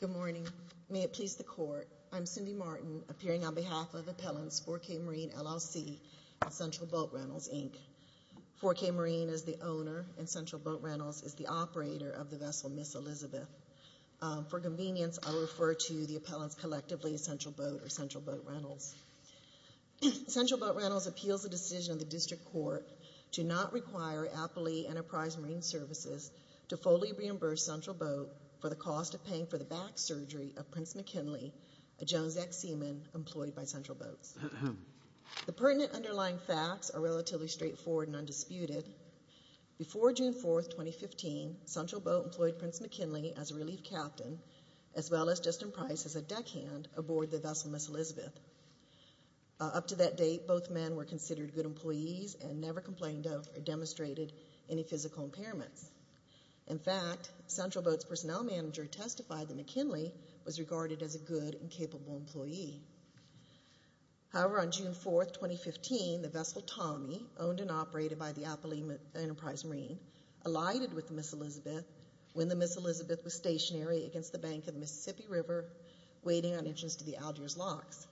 Good morning. May it please the Court, I'm Cindy Martin, appearing on behalf of Appellants 4-K Marine LLC and Central Boat Rentals, Inc. 4-K Marine is the owner and Central Boat Rentals is the operator of the vessel Miss Elizabeth. For convenience, I will refer to the appellants collectively as Central Boat or Central Boat Rentals. Central Boat Rentals appeals the decision of the District Court to not require Appalachee Enterprise Marine Services to fully reimburse Central Boat for the cost of paying for the back surgery of Prince McKinley, a Jones X seaman employed by Central Boat. The pertinent underlying facts are relatively straightforward and undisputed. Before June 4, 2015, Central Boat employed Prince McKinley as a relief captain as well as Justin Price as a deckhand aboard the vessel Miss Elizabeth. Up to that date, both men were considered good employees and never complained of or demonstrated any physical impairments. In fact, Central Boat's personnel manager testified that McKinley was regarded as a good and capable employee. However, on June 4, 2015, the vessel Tommy, owned and operated by the Appalachee Enterprise Marine, alighted with Miss Elizabeth when the Miss Elizabeth was stationary against the bank of the Mississippi River waiting on entrance to the Algiers Locks.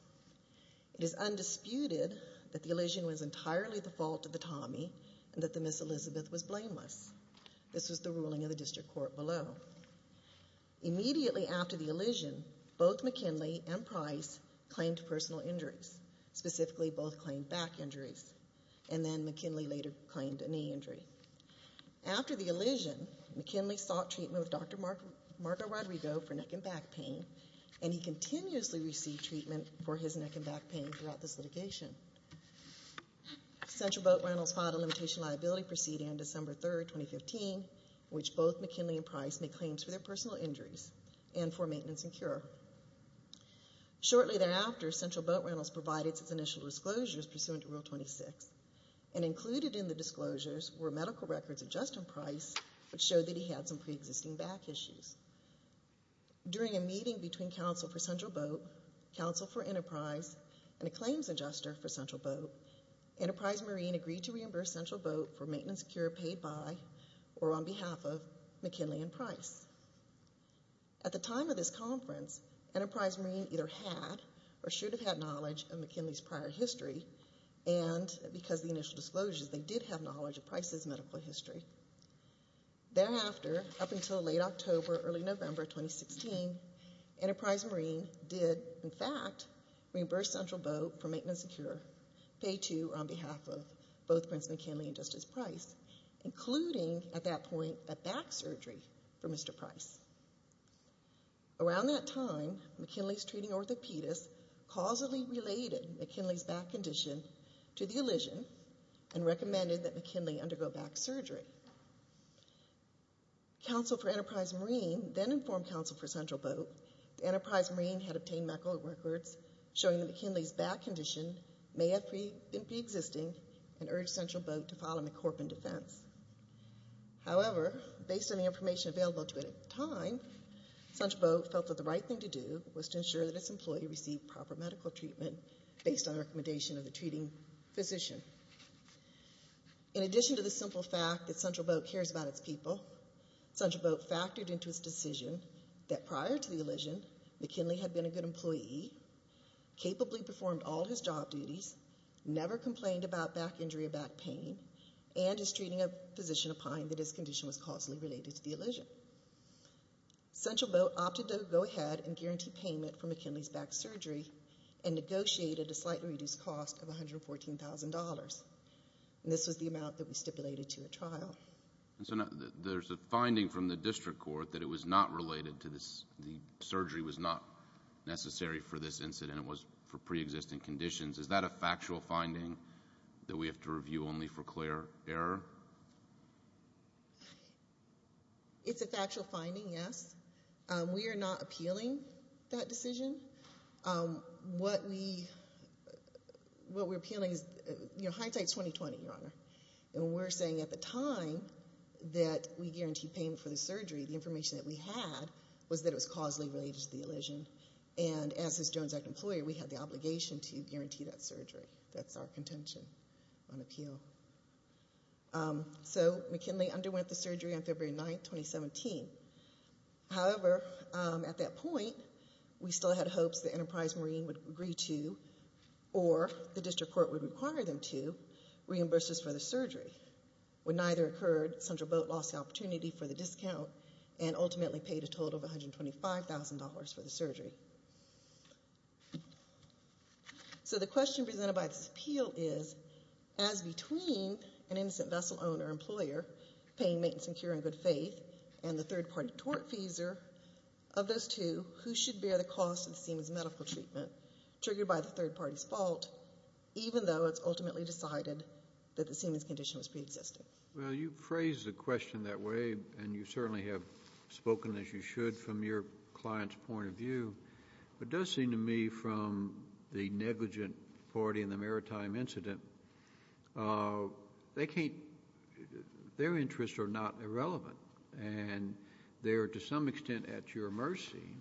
It is undisputed that the elision was entirely the fault of the Tommy and that the Miss Elizabeth was blameless. This was the ruling of the District Court below. Immediately after the elision, both McKinley and Price claimed personal injuries. Specifically, both claimed back injuries and then McKinley later claimed a knee injury. After the elision, McKinley sought treatment with Dr. Marco Rodrigo for neck and back pain, and he continuously received treatment for his neck and back pain throughout this litigation. Central Boat Rentals filed a limitation liability proceeding on December 3, 2015, in which both McKinley and Price made claims for their personal injuries and for maintenance and cure. Shortly thereafter, Central Boat Rentals provided its initial disclosures pursuant to Rule 26, and included in the disclosures were medical records of Justin Price which showed that he had some preexisting back issues. During a meeting between counsel for Central Boat, counsel for Enterprise, and a claims adjuster for Central Boat, Enterprise Marine agreed to reimburse Central Boat for maintenance and cure paid by or on behalf of McKinley and Price. At the time of this conference, Enterprise Marine either had or should have had knowledge of McKinley's prior history and because of the initial disclosures, they did have knowledge of Price's medical history. Thereafter, up until late October, early November 2016, Enterprise Marine did, in fact, reimburse Central Boat for maintenance and cure paid to or on behalf of both Prince McKinley and Justice Price, including at that point a back surgery for Mr. Price. Around that time, McKinley's treating orthopedist causally related McKinley's back condition to the elision and recommended that McKinley undergo back surgery. Counsel for Enterprise Marine then informed counsel for Central Boat that Enterprise Marine had obtained medical records showing that McKinley's back condition may have been preexisting and urged Central Boat to file a McCorpan defense. However, based on the information available to it at the time, Central Boat felt that the right thing to do was to ensure that its employee received proper medical treatment based on the recommendation of the treating physician. In addition to the simple fact that Central Boat cares about its people, Central Boat factored into its decision that prior to the elision, McKinley had been a good employee, capably performed all his job duties, never complained about back injury or back pain, and is treating a physician opined that his condition was causally related to the elision. Central Boat opted to go ahead and guarantee payment for McKinley's back surgery and negotiated a slightly reduced cost of $114,000. And this was the amount that we stipulated to a trial. There's a finding from the district court that it was not related to this, the surgery was not necessary for this incident. It was for preexisting conditions. Is that a factual finding that we have to review only for clear error? It's a factual finding, yes. We are not appealing that decision. What we're appealing is, you know, hindsight is 20-20, Your Honor. And we're saying at the time that we guaranteed payment for the surgery, the information that we had was that it was causally related to the elision. And as his Jones Act employer, we had the obligation to guarantee that surgery. That's our contention on appeal. So McKinley underwent the surgery on February 9, 2017. However, at that point, we still had hopes the Enterprise Marine would agree to or the district court would require them to reimburse us for the surgery. When neither occurred, Central Boat lost the opportunity for the discount and ultimately paid a total of $125,000 for the surgery. So the question presented by this appeal is, as between an innocent vessel owner employer paying maintenance and cure in good faith and the third-party tortfeasor of those two, who should bear the cost of the seaman's medical treatment triggered by the third party's fault, even though it's ultimately decided that the seaman's condition was preexisting? Well, you phrased the question that way, and you certainly have spoken as you should from your client's point of view. What does seem to me from the negligent party in the maritime incident, their interests are not irrelevant, and they are to some extent at your mercy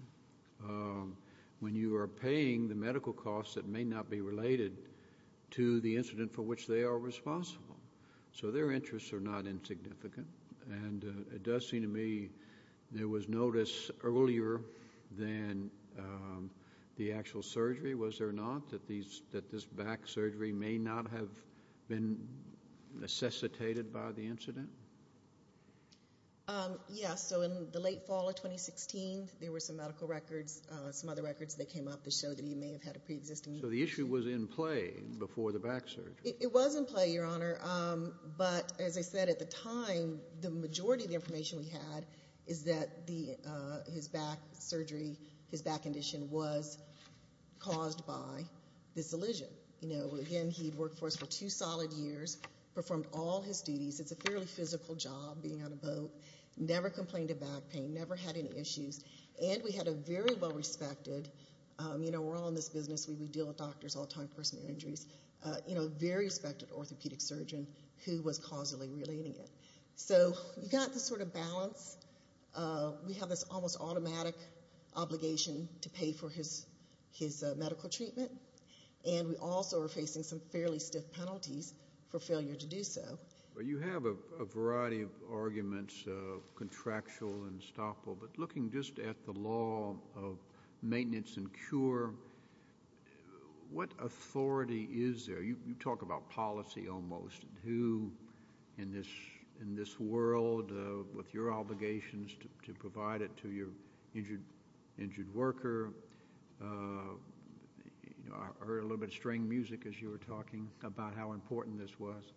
when you are paying the medical costs that may not be related to the incident for which they are responsible. So their interests are not insignificant, and it does seem to me there was notice earlier than the actual surgery, was there not, that this back surgery may not have been necessitated by the incident? Yes, so in the late fall of 2016, there were some medical records, some other records that came up that showed that he may have had a preexisting condition. So the issue was in play before the back surgery. It was in play, Your Honor, but as I said, at the time, the majority of the information we had is that his back surgery, his back condition, was caused by this elision. Again, he had worked for us for two solid years, performed all his duties. It's a fairly physical job, being on a boat, never complained of back pain, never had any issues, and we had a very well-respected, you know, we're all in this business, we deal with doctors all the time, personal injuries, you know, very respected orthopedic surgeon who was causally relating it. So we got this sort of balance. We have this almost automatic obligation to pay for his medical treatment, and we also are facing some fairly stiff penalties for failure to do so. Well, you have a variety of arguments, contractual and stopful, but looking just at the law of maintenance and cure, what authority is there? You talk about policy almost and who in this world, with your obligations to provide it to your injured worker. I heard a little bit of string music as you were talking about how important this was.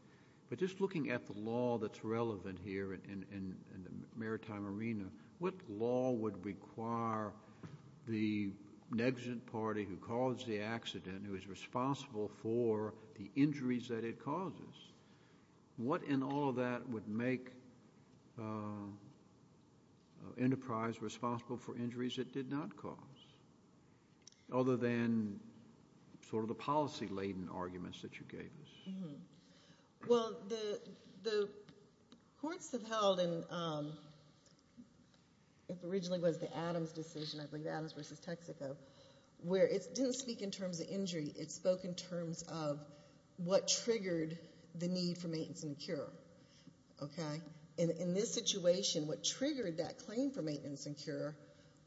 But just looking at the law that's relevant here in the maritime arena, what law would require the negligent party who caused the accident, who is responsible for the injuries that it causes, what in all of that would make Enterprise responsible for injuries it did not cause, other than sort of the policy-laden arguments that you gave us? Well, the courts have held, and it originally was the Adams decision, I believe Adams v. Texaco, where it didn't speak in terms of injury. It spoke in terms of what triggered the need for maintenance and cure. In this situation, what triggered that claim for maintenance and cure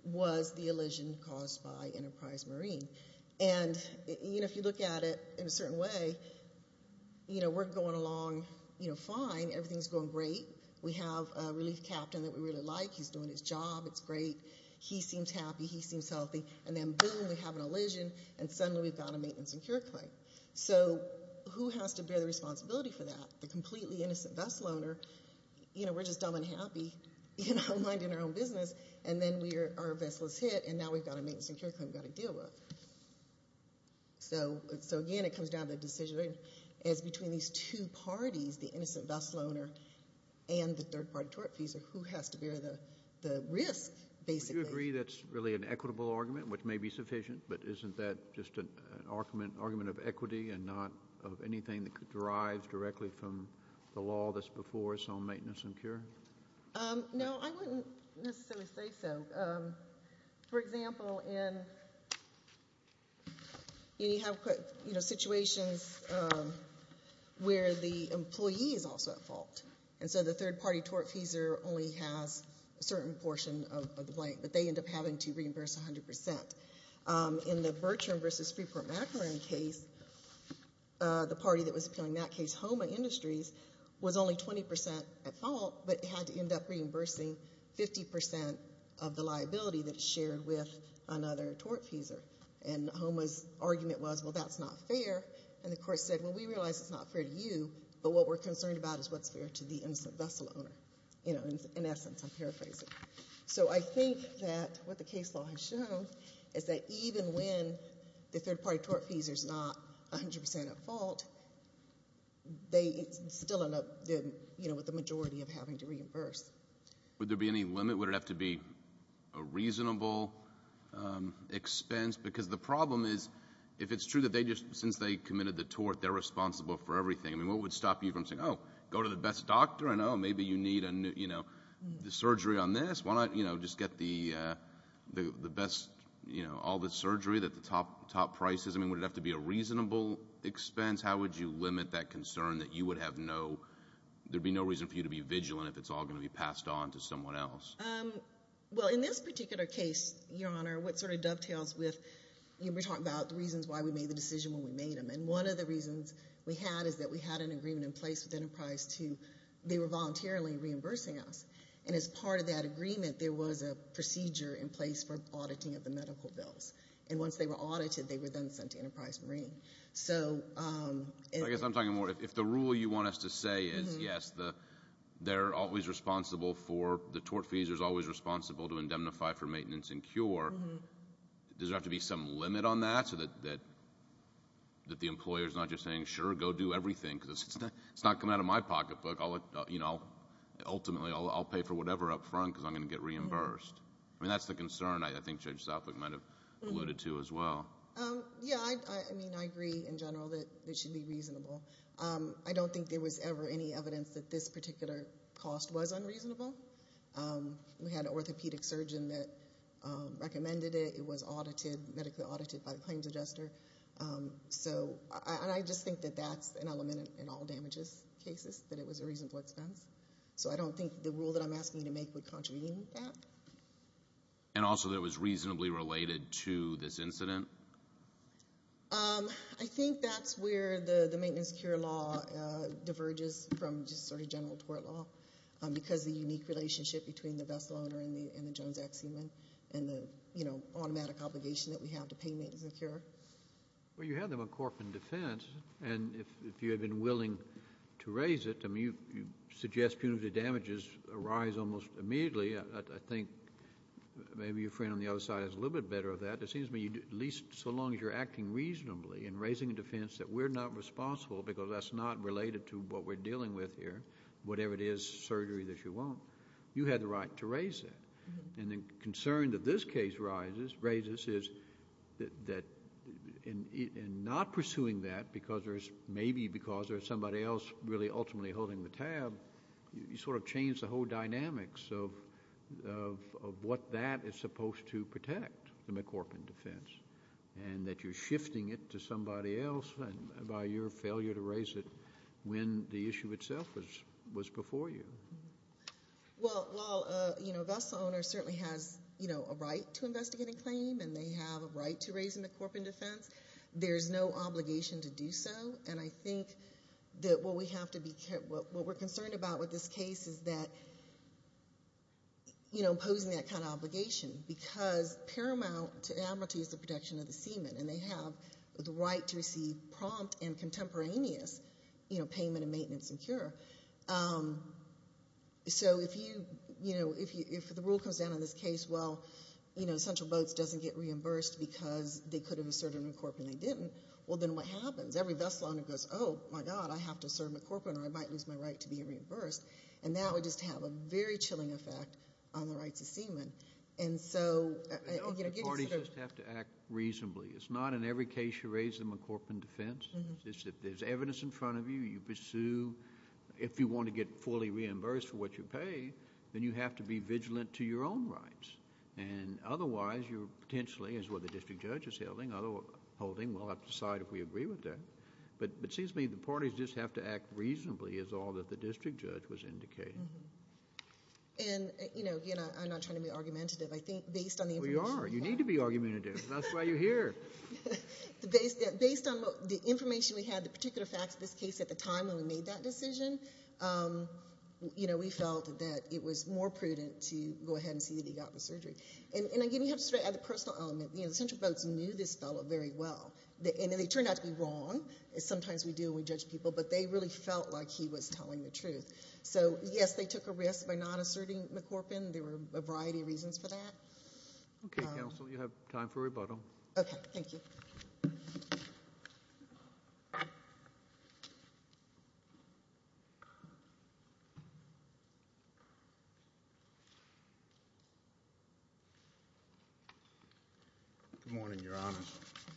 was the elision caused by Enterprise Marine. And if you look at it in a certain way, we're going along fine. Everything's going great. We have a relief captain that we really like. He's doing his job. It's great. He seems happy. He seems healthy. And then boom, we have an elision, and suddenly we've got a maintenance and cure claim. So who has to bear the responsibility for that? The completely innocent vessel owner. We're just dumb and happy, minding our own business. And then our vessel is hit, and now we've got a maintenance and cure claim we've got to deal with. So, again, it comes down to the decision. It's between these two parties, the innocent vessel owner and the third-party tortfeasor, who has to bear the risk, basically. Would you agree that's really an equitable argument, which may be sufficient, but isn't that just an argument of equity and not of anything that could derive directly from the law that's before us on maintenance and cure? No, I wouldn't necessarily say so. For example, in situations where the employee is also at fault, and so the third-party tortfeasor only has a certain portion of the blank, but they end up having to reimburse 100%. In the Bertrand v. Freeport Macaron case, the party that was appealing that case, HOMA Industries, was only 20% at fault, but had to end up reimbursing 50% of the liability that's shared with another tortfeasor. And HOMA's argument was, well, that's not fair. And the court said, well, we realize it's not fair to you, but what we're concerned about is what's fair to the innocent vessel owner, you know, in essence, I'm paraphrasing. So I think that what the case law has shown is that even when the third-party tortfeasor is not 100% at fault, they still end up with the majority of having to reimburse. Would there be any limit? Would it have to be a reasonable expense? Because the problem is, if it's true that since they committed the tort, they're responsible for everything, I mean, what would stop you from saying, oh, go to the best doctor, and, oh, maybe you need surgery on this. Why not just get the best, you know, all the surgery at the top prices? I mean, would it have to be a reasonable expense? How would you limit that concern that you would have no, there would be no reason for you to be vigilant if it's all going to be passed on to someone else? Well, in this particular case, Your Honor, what sort of dovetails with, you know, we're talking about the reasons why we made the decision when we made them. And one of the reasons we had is that we had an agreement in place with Enterprise to, they were voluntarily reimbursing us. And as part of that agreement, there was a procedure in place for auditing of the medical bills. And once they were audited, they were then sent to Enterprise Marine. So. I guess I'm talking more, if the rule you want us to say is, yes, they're always responsible for, the tort fees are always responsible to indemnify for maintenance and cure, does there have to be some limit on that so that the employer's not just saying, sure, go do everything, because it's not coming out of my pocketbook. I'll, you know, ultimately, I'll pay for whatever up front because I'm going to get reimbursed. I mean, that's the concern I think Judge Southwick might have alluded to as well. Yeah, I mean, I agree in general that it should be reasonable. I don't think there was ever any evidence that this particular cost was unreasonable. We had an orthopedic surgeon that recommended it. It was audited, medically audited by the claims adjuster. So, and I just think that that's an element in all damages cases, that it was a reasonable expense. So I don't think the rule that I'm asking you to make would contravene that. And also that it was reasonably related to this incident? I think that's where the maintenance cure law diverges from just sort of general tort law, because the unique relationship between the best loaner and the Jones ex-human and the, you know, automatic obligation that we have to pay maintenance and cure. Well, you had the McCorpin defense, and if you had been willing to raise it, I mean, you suggest punitive damages arise almost immediately. I think maybe your friend on the other side is a little bit better of that. It seems to me at least so long as you're acting reasonably in raising a defense that we're not responsible because that's not related to what we're dealing with here, whatever it is, surgery that you want, you had the right to raise it. And the concern that this case raises is that in not pursuing that because there's maybe because there's somebody else really ultimately holding the tab, you sort of change the whole dynamics of what that is supposed to protect, the McCorpin defense, and that you're shifting it to somebody else by your failure to raise it when the issue itself was before you. Well, while, you know, a vessel owner certainly has, you know, a right to investigate a claim and they have a right to raise a McCorpin defense, there's no obligation to do so. And I think that what we're concerned about with this case is that, you know, imposing that kind of obligation because paramount to amortize the protection of the seaman, and they have the right to receive prompt and contemporaneous, you know, payment and maintenance and cure. So if you, you know, if the rule comes down in this case, well, you know, Central Boats doesn't get reimbursed because they could have asserted a McCorpin and they didn't, well then what happens? Every vessel owner goes, oh, my God, I have to assert a McCorpin or I might lose my right to be reimbursed. And that would just have a very chilling effect on the rights of seamen. And so, you know, getting sort of... The parties just have to act reasonably. It's not in every case you raise a McCorpin defense. It's just if there's evidence in front of you, you pursue. If you want to get fully reimbursed for what you pay, then you have to be vigilant to your own rights. And otherwise, you're potentially, as what the district judge is holding, well, I'll have to decide if we agree with that. But it seems to me the parties just have to act reasonably is all that the district judge was indicating. And, you know, again, I'm not trying to be argumentative. I think based on the information... We are. You need to be argumentative. That's why you're here. Based on the information we had, the particular facts of this case at the time when we made that decision, you know, we felt that it was more prudent to go ahead and see that he got the surgery. And, again, you have to sort of add the personal element. You know, the Central Boats knew this fellow very well. And they turned out to be wrong. Sometimes we do and we judge people. But they really felt like he was telling the truth. So, yes, they took a risk by not asserting McCorpin. There were a variety of reasons for that. Okay, Counsel. You have time for rebuttal. Okay. Thank you. Good morning, Your Honor.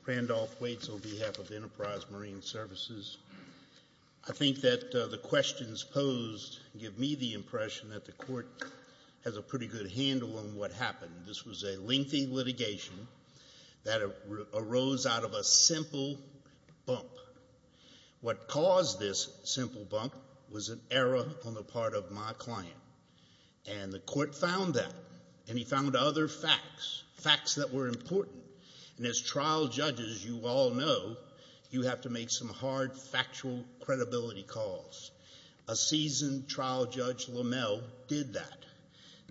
Randolph Waits on behalf of Enterprise Marine Services. I think that the questions posed give me the impression that the court has a pretty good handle on what happened. This was a lengthy litigation that arose out of a simple bump. What caused this simple bump was an error on the part of my client. And the court found that. And he found other facts, facts that were important. And as trial judges, you all know, you have to make some hard factual credibility calls. A seasoned trial judge, Lamell, did that.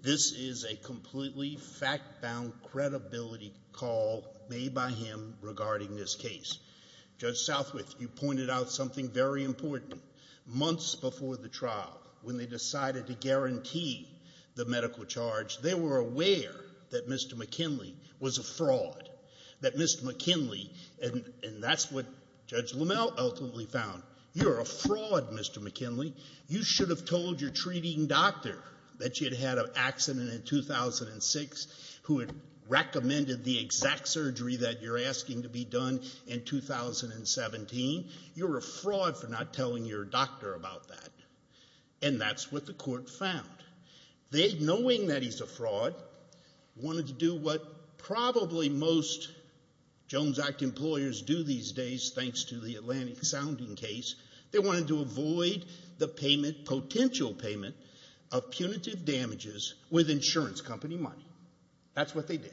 This is a completely fact-bound credibility call made by him regarding this case. Judge Southwith, you pointed out something very important. Months before the trial, when they decided to guarantee the medical charge, they were aware that Mr. McKinley was a fraud. That Mr. McKinley, and that's what Judge Lamell ultimately found. You're a fraud, Mr. McKinley. You should have told your treating doctor that you'd had an accident in 2006, who had recommended the exact surgery that you're asking to be done in 2017. You're a fraud for not telling your doctor about that. And that's what the court found. They, knowing that he's a fraud, wanted to do what probably most Jones Act employers do these days, thanks to the Atlantic sounding case. They wanted to avoid the payment, potential payment, of punitive damages with insurance company money. That's what they did.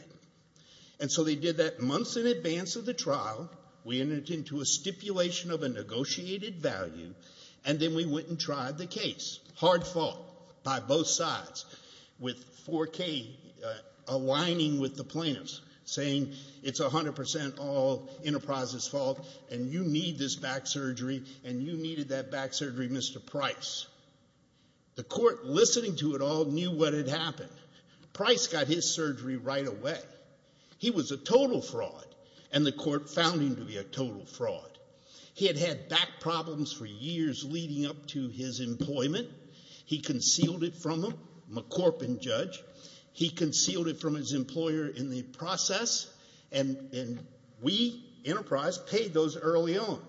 And so they did that months in advance of the trial. We entered into a stipulation of a negotiated value, and then we went and tried the case. Hard fall by both sides, with 4K aligning with the plaintiffs, saying it's 100% all Enterprise's fault, and you need this back surgery, and you needed that back surgery, Mr. Price. The court, listening to it all, knew what had happened. Price got his surgery right away. He was a total fraud, and the court found him to be a total fraud. He had had back problems for years leading up to his employment. He concealed it from him. I'm a Corpin judge. He concealed it from his employer in the process, and we, Enterprise, paid those early on.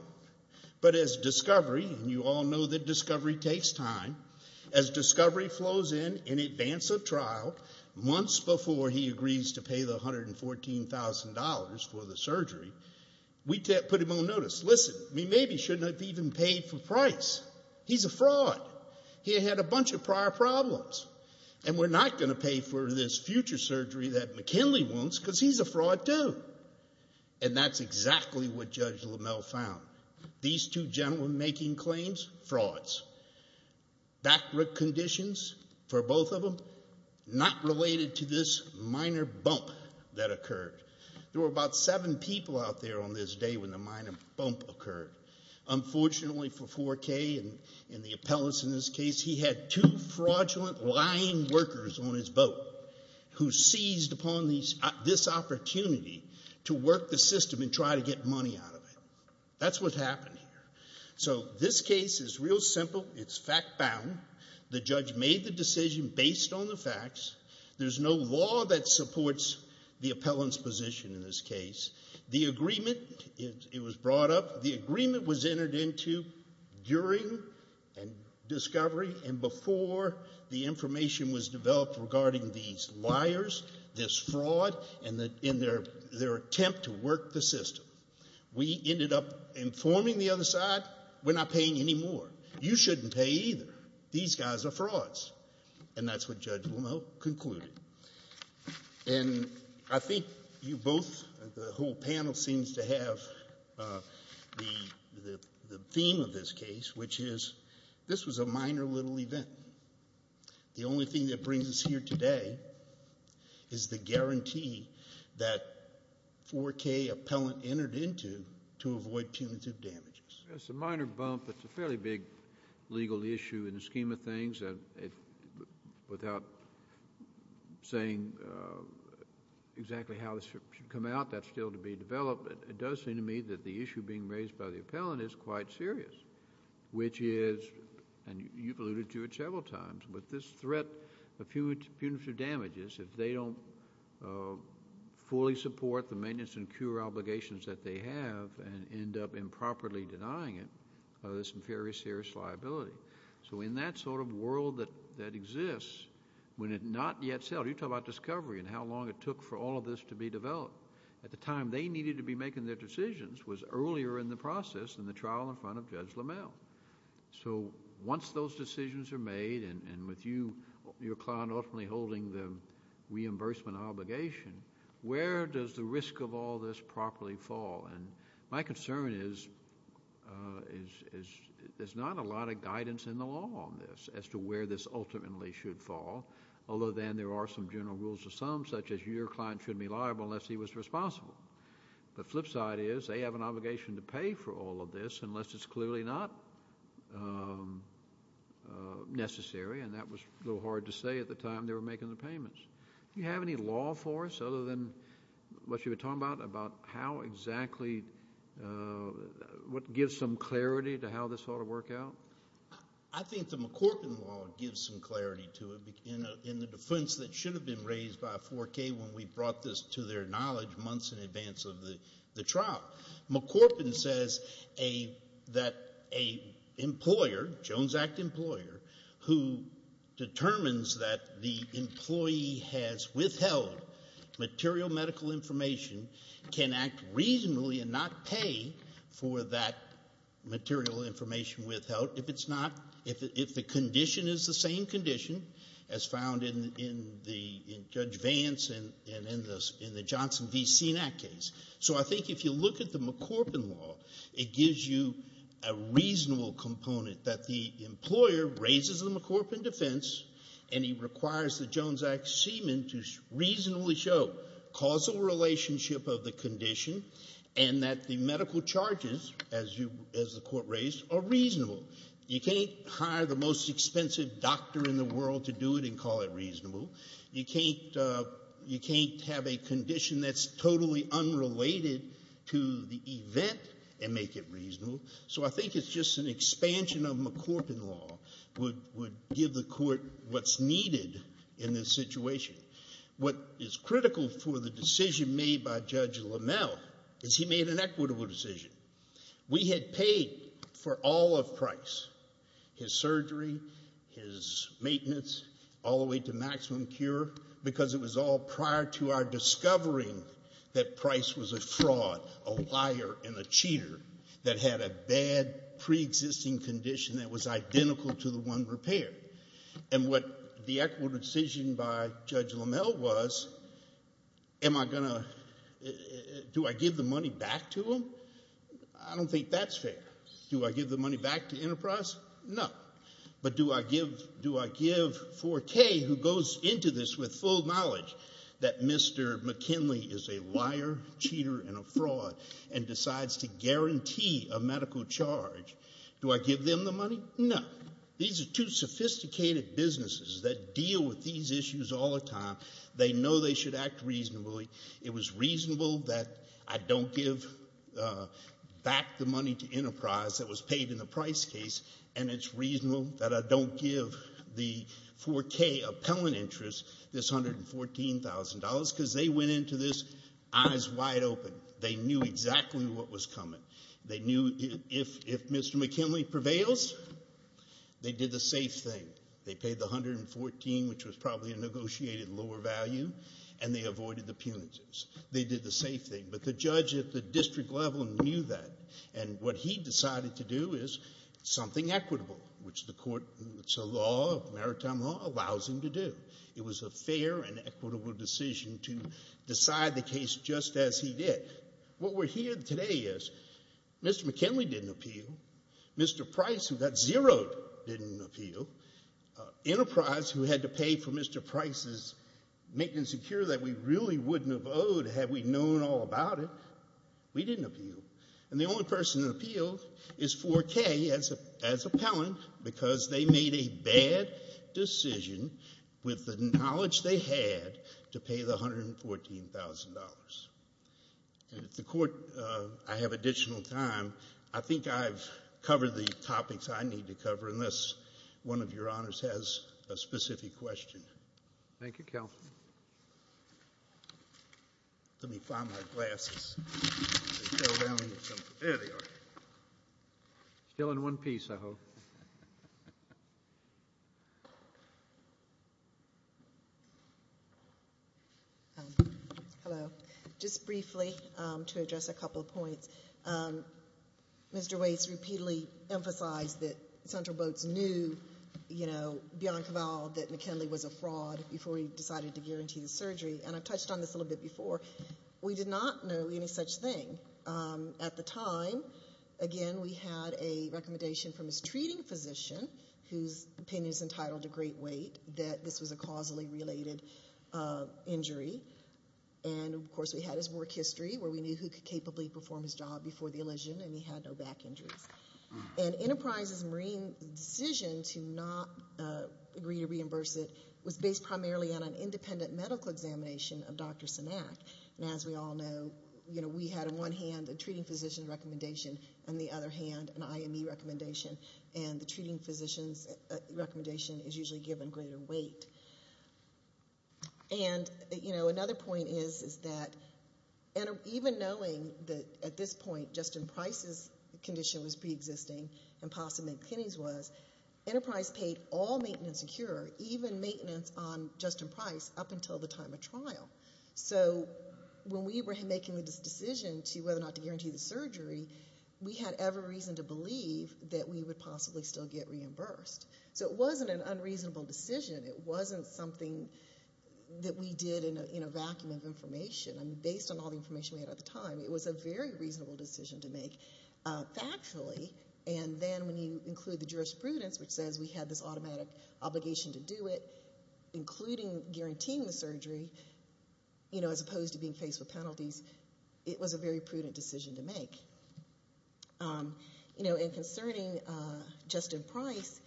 But as Discovery, and you all know that Discovery takes time, as Discovery flows in in advance of trial, months before he agrees to pay the $114,000 for the surgery, we put him on notice. Listen, we maybe shouldn't have even paid for Price. He's a fraud. He had had a bunch of prior problems, and we're not going to pay for this future surgery that McKinley wants because he's a fraud too. And that's exactly what Judge LaMelle found. These two gentlemen making claims? Frauds. Back brick conditions for both of them? Not related to this minor bump that occurred. There were about seven people out there on this day when the minor bump occurred. Unfortunately for Forquet and the appellants in this case, he had two fraudulent, lying workers on his boat who seized upon this opportunity to work the system and try to get money out of it. That's what happened here. So this case is real simple. It's fact-bound. The judge made the decision based on the facts. There's no law that supports the appellant's position in this case. The agreement, it was brought up. The agreement was entered into during Discovery and before the information was developed regarding these liars, this fraud, and their attempt to work the system. We ended up informing the other side, we're not paying any more. You shouldn't pay either. These guys are frauds. And that's what Judge LaMelle concluded. And I think you both, the whole panel seems to have the theme of this case, which is this was a minor little event. The only thing that brings us here today is the guarantee that a 4K appellant entered into to avoid punitive damages. It's a minor bump. It's a fairly big legal issue in the scheme of things. Without saying exactly how this should come out, that's still to be developed. It does seem to me that the issue being raised by the appellant is quite serious, which is, and you've alluded to it several times, with this threat of punitive damages, if they don't fully support the maintenance and cure obligations that they have and end up improperly denying it, there's some very serious liability. So in that sort of world that exists, when it not yet settled, you talk about Discovery and how long it took for all of this to be developed. At the time they needed to be making their decisions was earlier in the process than the trial in front of Judge LaMelle. So once those decisions are made, and with your client ultimately holding the reimbursement obligation, where does the risk of all this properly fall? My concern is there's not a lot of guidance in the law on this as to where this ultimately should fall, although then there are some general rules of thumb, such as your client shouldn't be liable unless he was responsible. The flip side is they have an obligation to pay for all of this unless it's clearly not necessary, and that was a little hard to say at the time they were making the payments. Do you have any law for us, other than what you were talking about, about how exactly what gives some clarity to how this ought to work out? I think the McCorpin law gives some clarity to it in the defense that should have been raised by 4K when we brought this to their knowledge months in advance of the trial. McCorpin says that an employer, Jones Act employer, who determines that the employee has withheld material medical information can act reasonably and not pay for that material information withheld if the condition is the same condition as found in Judge Vance and in the Johnson v. Senat case. So I think if you look at the McCorpin law, it gives you a reasonable component that the employer raises the McCorpin defense and he requires the Jones Act seaman to reasonably show causal relationship of the condition and that the medical charges, as the Court raised, are reasonable. You can't hire the most expensive doctor in the world to do it and call it reasonable. You can't have a condition that's totally unrelated to the event and make it reasonable. So I think it's just an expansion of McCorpin law would give the Court what's needed in this situation. What is critical for the decision made by Judge LaMelle is he made an equitable decision. We had paid for all of Price, his surgery, his maintenance, all the way to maximum cure, because it was all prior to our discovering that Price was a fraud, a liar, and a cheater that had a bad preexisting condition that was identical to the one repaired. And what the equitable decision by Judge LaMelle was, am I going to, do I give the money back to him? I don't think that's fair. Do I give the money back to Enterprise? No. But do I give Forte, who goes into this with full knowledge that Mr. McKinley is a liar, cheater, and a fraud and decides to guarantee a medical charge, do I give them the money? No. These are two sophisticated businesses that deal with these issues all the time. They know they should act reasonably. It was reasonable that I don't give back the money to Enterprise that was paid in the Price case, and it's reasonable that I don't give the Forte appellant interest this $114,000 because they went into this eyes wide open. They knew exactly what was coming. They knew if Mr. McKinley prevails, they did the safe thing. They paid the $114,000, which was probably a negotiated lower value, and they avoided the punitives. They did the safe thing. But the judge at the district level knew that, and what he decided to do is something equitable, which the court, it's a law, maritime law, allows him to do. It was a fair and equitable decision to decide the case just as he did. What we're hearing today is Mr. McKinley didn't appeal. Mr. Price, who got zeroed, didn't appeal. Enterprise, who had to pay for Mr. Price's maintenance secure that we really wouldn't have owed had we known all about it, we didn't appeal. And the only person that appealed is Forte as appellant because they made a bad decision with the knowledge they had to pay the $114,000. And if the court, I have additional time. I think I've covered the topics I need to cover unless one of your honors has a specific question. Thank you, Counsel. Let me find my glasses. There they are. Still in one piece, I hope. Hello. Just briefly, to address a couple of points, Mr. Waits repeatedly emphasized that Central Boats knew, you know, beyond cavale, that McKinley was a fraud before he decided to guarantee the surgery. And I've touched on this a little bit before. We did not know any such thing at the time. Again, we had a recommendation from his treating physician, whose opinion is entitled to great weight, that this was a causally related injury. And, of course, we had his work history, where we knew who could capably perform his job before the elision, and he had no back injuries. And Enterprise's Marine decision to not agree to reimburse it was based primarily on an independent medical examination of Dr. Sinak. And as we all know, you know, we had in one hand a treating physician's recommendation, and in the other hand an IME recommendation. And the treating physician's recommendation is usually given greater weight. And, you know, another point is that even knowing that at this point Justin Price's condition was preexisting and possibly McKinney's was, Enterprise paid all maintenance and cure, even maintenance on Justin Price up until the time of trial. So when we were making this decision to whether or not to guarantee the surgery, we had every reason to believe that we would possibly still get reimbursed. So it wasn't an unreasonable decision. It wasn't something that we did in a vacuum of information. And based on all the information we had at the time, it was a very reasonable decision to make factually. And then when you include the jurisprudence, which says we had this automatic obligation to do it, including guaranteeing the surgery, you know, as opposed to being faced with penalties, it was a very prudent decision to make. You know, and concerning Justin Price,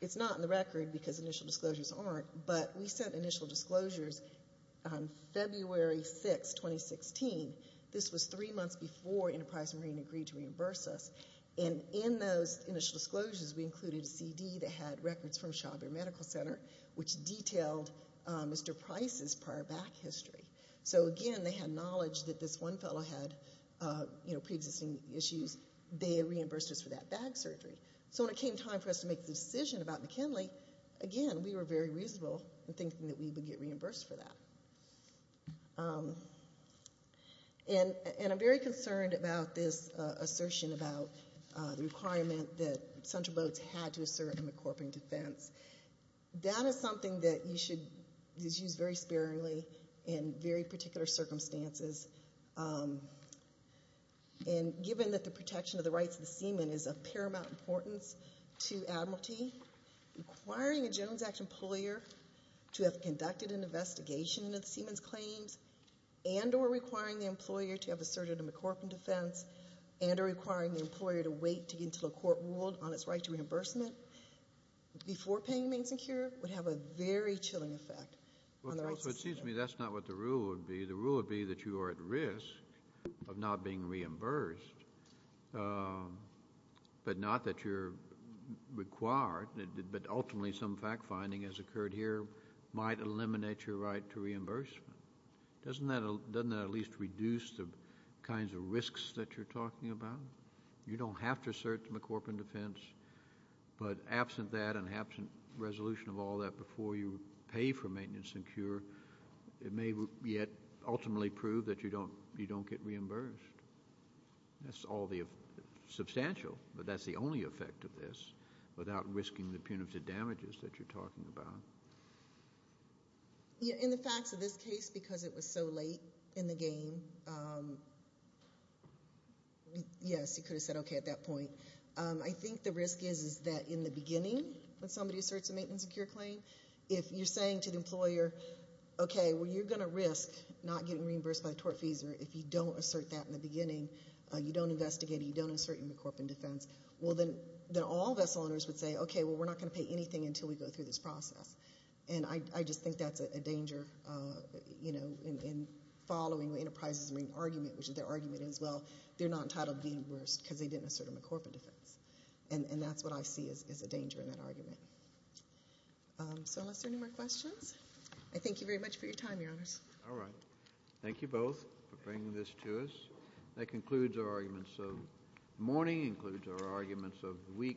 it's not in the record because initial disclosures aren't, but we sent initial disclosures on February 6, 2016. This was three months before Enterprise Marine agreed to reimburse us. And in those initial disclosures, we included a CD that had records from Shaw Bear Medical Center, which detailed Mr. Price's prior back history. So again, they had knowledge that this one fellow had, you know, preexisting issues. They reimbursed us for that back surgery. So when it came time for us to make the decision about McKinley, again, we were very reasonable in thinking that we would get reimbursed for that. And I'm very concerned about this assertion about the requirement that Central Boats had to assert a McCorping defense. That is something that you should use very sparingly in very particular circumstances. And given that the protection of the rights of the seaman is of paramount importance to Admiralty, requiring a Jones Act employer to have conducted an investigation into the seaman's claims and or requiring the employer to have asserted a McCorping defense and or requiring the employer to wait to get into the court world on its right to reimbursement before paying maintenance and cure would have a very chilling effect on the rights of the seaman. Well, so it seems to me that's not what the rule would be. The rule would be that you are at risk of not being reimbursed, but not that you're required, but ultimately some fact-finding as occurred here might eliminate your right to reimbursement. Doesn't that at least reduce the kinds of risks that you're talking about? You don't have to assert the McCorping defense, but absent that and absent resolution of all that before you pay for maintenance and cure, it may yet ultimately prove that you don't get reimbursed. That's all substantial, but that's the only effect of this without risking the punitive damages that you're talking about. In the facts of this case, because it was so late in the game, yes, you could have said okay at that point. I think the risk is that in the beginning when somebody asserts a maintenance and cure claim, if you're saying to the employer, okay, well, you're going to risk not getting reimbursed by the tort fees, or if you don't assert that in the beginning, you don't investigate it, you don't assert your McCorping defense, well, then all vessel owners would say, okay, well, we're not going to pay anything until we go through this process. And I just think that's a danger in following the enterprise's main argument, which is their argument as well. They're not entitled to be reimbursed because they didn't assert a McCorping defense, and that's what I see as a danger in that argument. So unless there are any more questions, I thank you very much for your time, Your Honors. All right. Thank you both for bringing this to us. That concludes our arguments. So morning includes our arguments of the week.